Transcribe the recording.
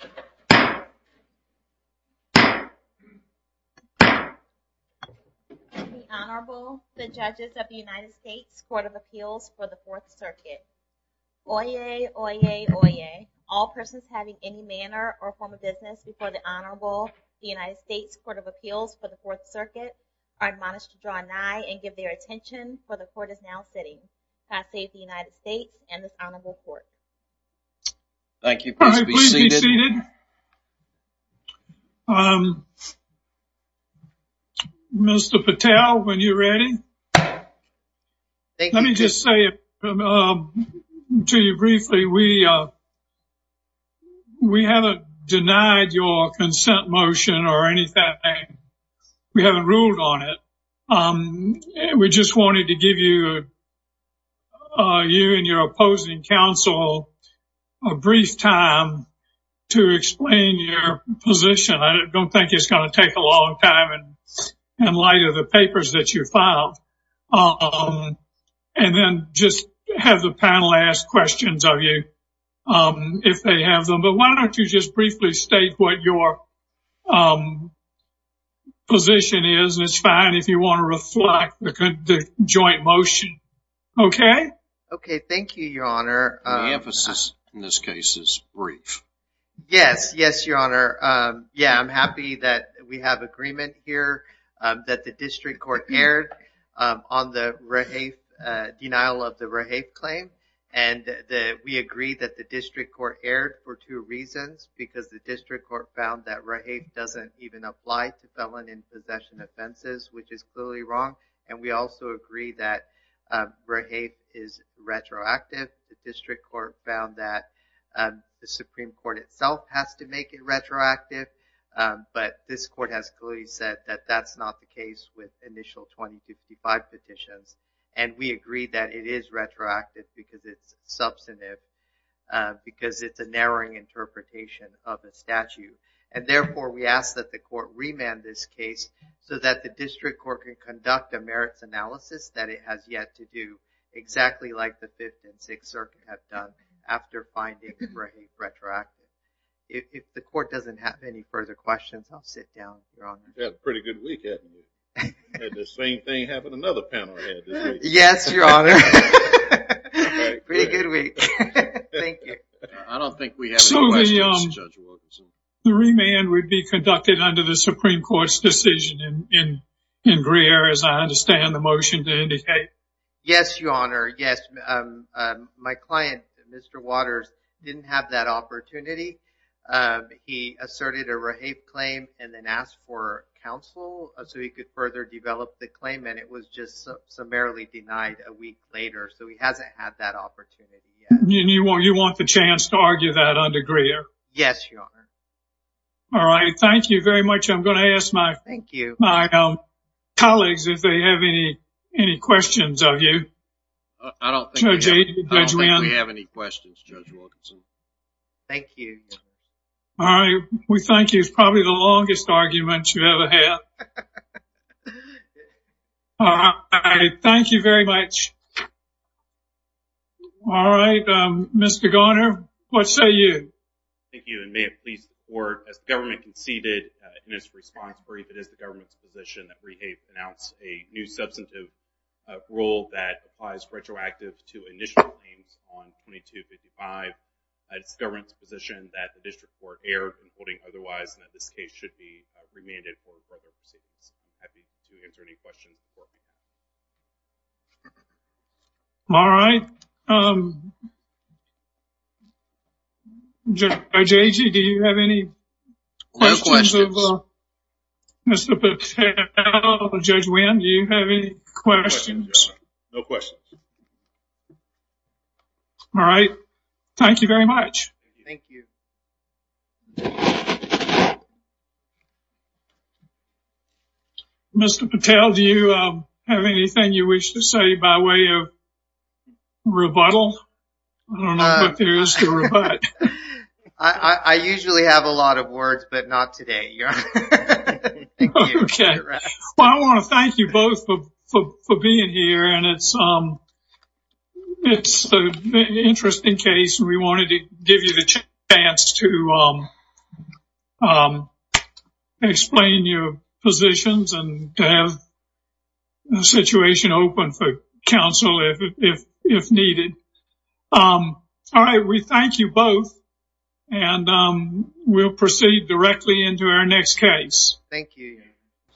To the Honorable, the Judges of the United States Court of Appeals for the Fourth Circuit. Oyez, oyez, oyez, all persons having any manner or form of business before the Honorable, the United States Court of Appeals for the Fourth Circuit, are admonished to draw an eye and give their attention, for the Court is now sitting. Class A of the United States and this Honorable Court. Thank you. Please be seated. Mr. Patel, when you're ready, let me just say to you briefly, we haven't denied your consent motion or anything. We haven't ruled on it. We just wanted to give you and your opposing counsel a brief time to explain your position. I don't think it's going to take a long time in light of the papers that you filed. And then just have the panel ask questions of you if they have them. But why don't you just briefly state what your position is. It's fine if you want to reflect the joint motion. Okay. Okay. Thank you, Your Honor. The emphasis in this case is brief. Yes. Yes, Your Honor. Yeah, I'm happy that we have agreement here that the district court erred on the denial of the Rahafe claim. And we agree that the district court erred for two reasons. Because the district court found that Rahafe doesn't even apply to felon in possession offenses, which is clearly wrong. And we also agree that Rahafe is retroactive. The district court found that the Supreme Court itself has to make it retroactive. But this court has clearly said that that's not the case with initial 2055 petitions. And we agree that it is retroactive because it's substantive, because it's a narrowing interpretation of a statute. And, therefore, we ask that the court remand this case so that the district court can conduct a merits analysis that it has yet to do, exactly like the Fifth and Sixth Circuit have done after finding Rahafe retroactive. If the court doesn't have any further questions, I'll sit down, Your Honor. You've had a pretty good week, haven't you? Had the same thing happen another panel had this week. Yes, Your Honor. Pretty good week. Thank you. I don't think we have any questions, Judge Wilkinson. So the remand would be conducted under the Supreme Court's decision in Greer, as I understand the motion to indicate? Yes, Your Honor, yes. My client, Mr. Waters, didn't have that opportunity. He asserted a Rahafe claim and then asked for counsel so he could further develop the claim, and it was just summarily denied a week later. So he hasn't had that opportunity yet. And you want the chance to argue that under Greer? Yes, Your Honor. All right, thank you very much. I'm going to ask my colleagues if they have any questions of you. I don't think we have any questions, Judge Wilkinson. Thank you. All right, we thank you. It's probably the longest argument you've ever had. Thank you very much. All right, Mr. Garner, what say you? Thank you, and may it please the Court, as the government conceded in its response brief, it is the government's position that Rahafe announce a new substantive rule that applies retroactive to initial claims on 2255. It's the government's position that the district court erred in holding otherwise, and that this case should be remanded for further proceedings. I'd be happy to answer any questions. All right. Judge Agee, do you have any questions of Mr. Patel? Judge Winn, do you have any questions? No questions. All right. Thank you very much. Thank you. Mr. Patel, do you have anything you wish to say by way of rebuttal? I don't know if there is to rebut. I usually have a lot of words, but not today. Thank you. Okay. Well, I want to thank you both for being here, and it's an interesting case, and we wanted to give you the chance to explain your positions and to have the situation open for counsel if needed. All right, we thank you both, and we'll proceed directly into our next case. Thank you.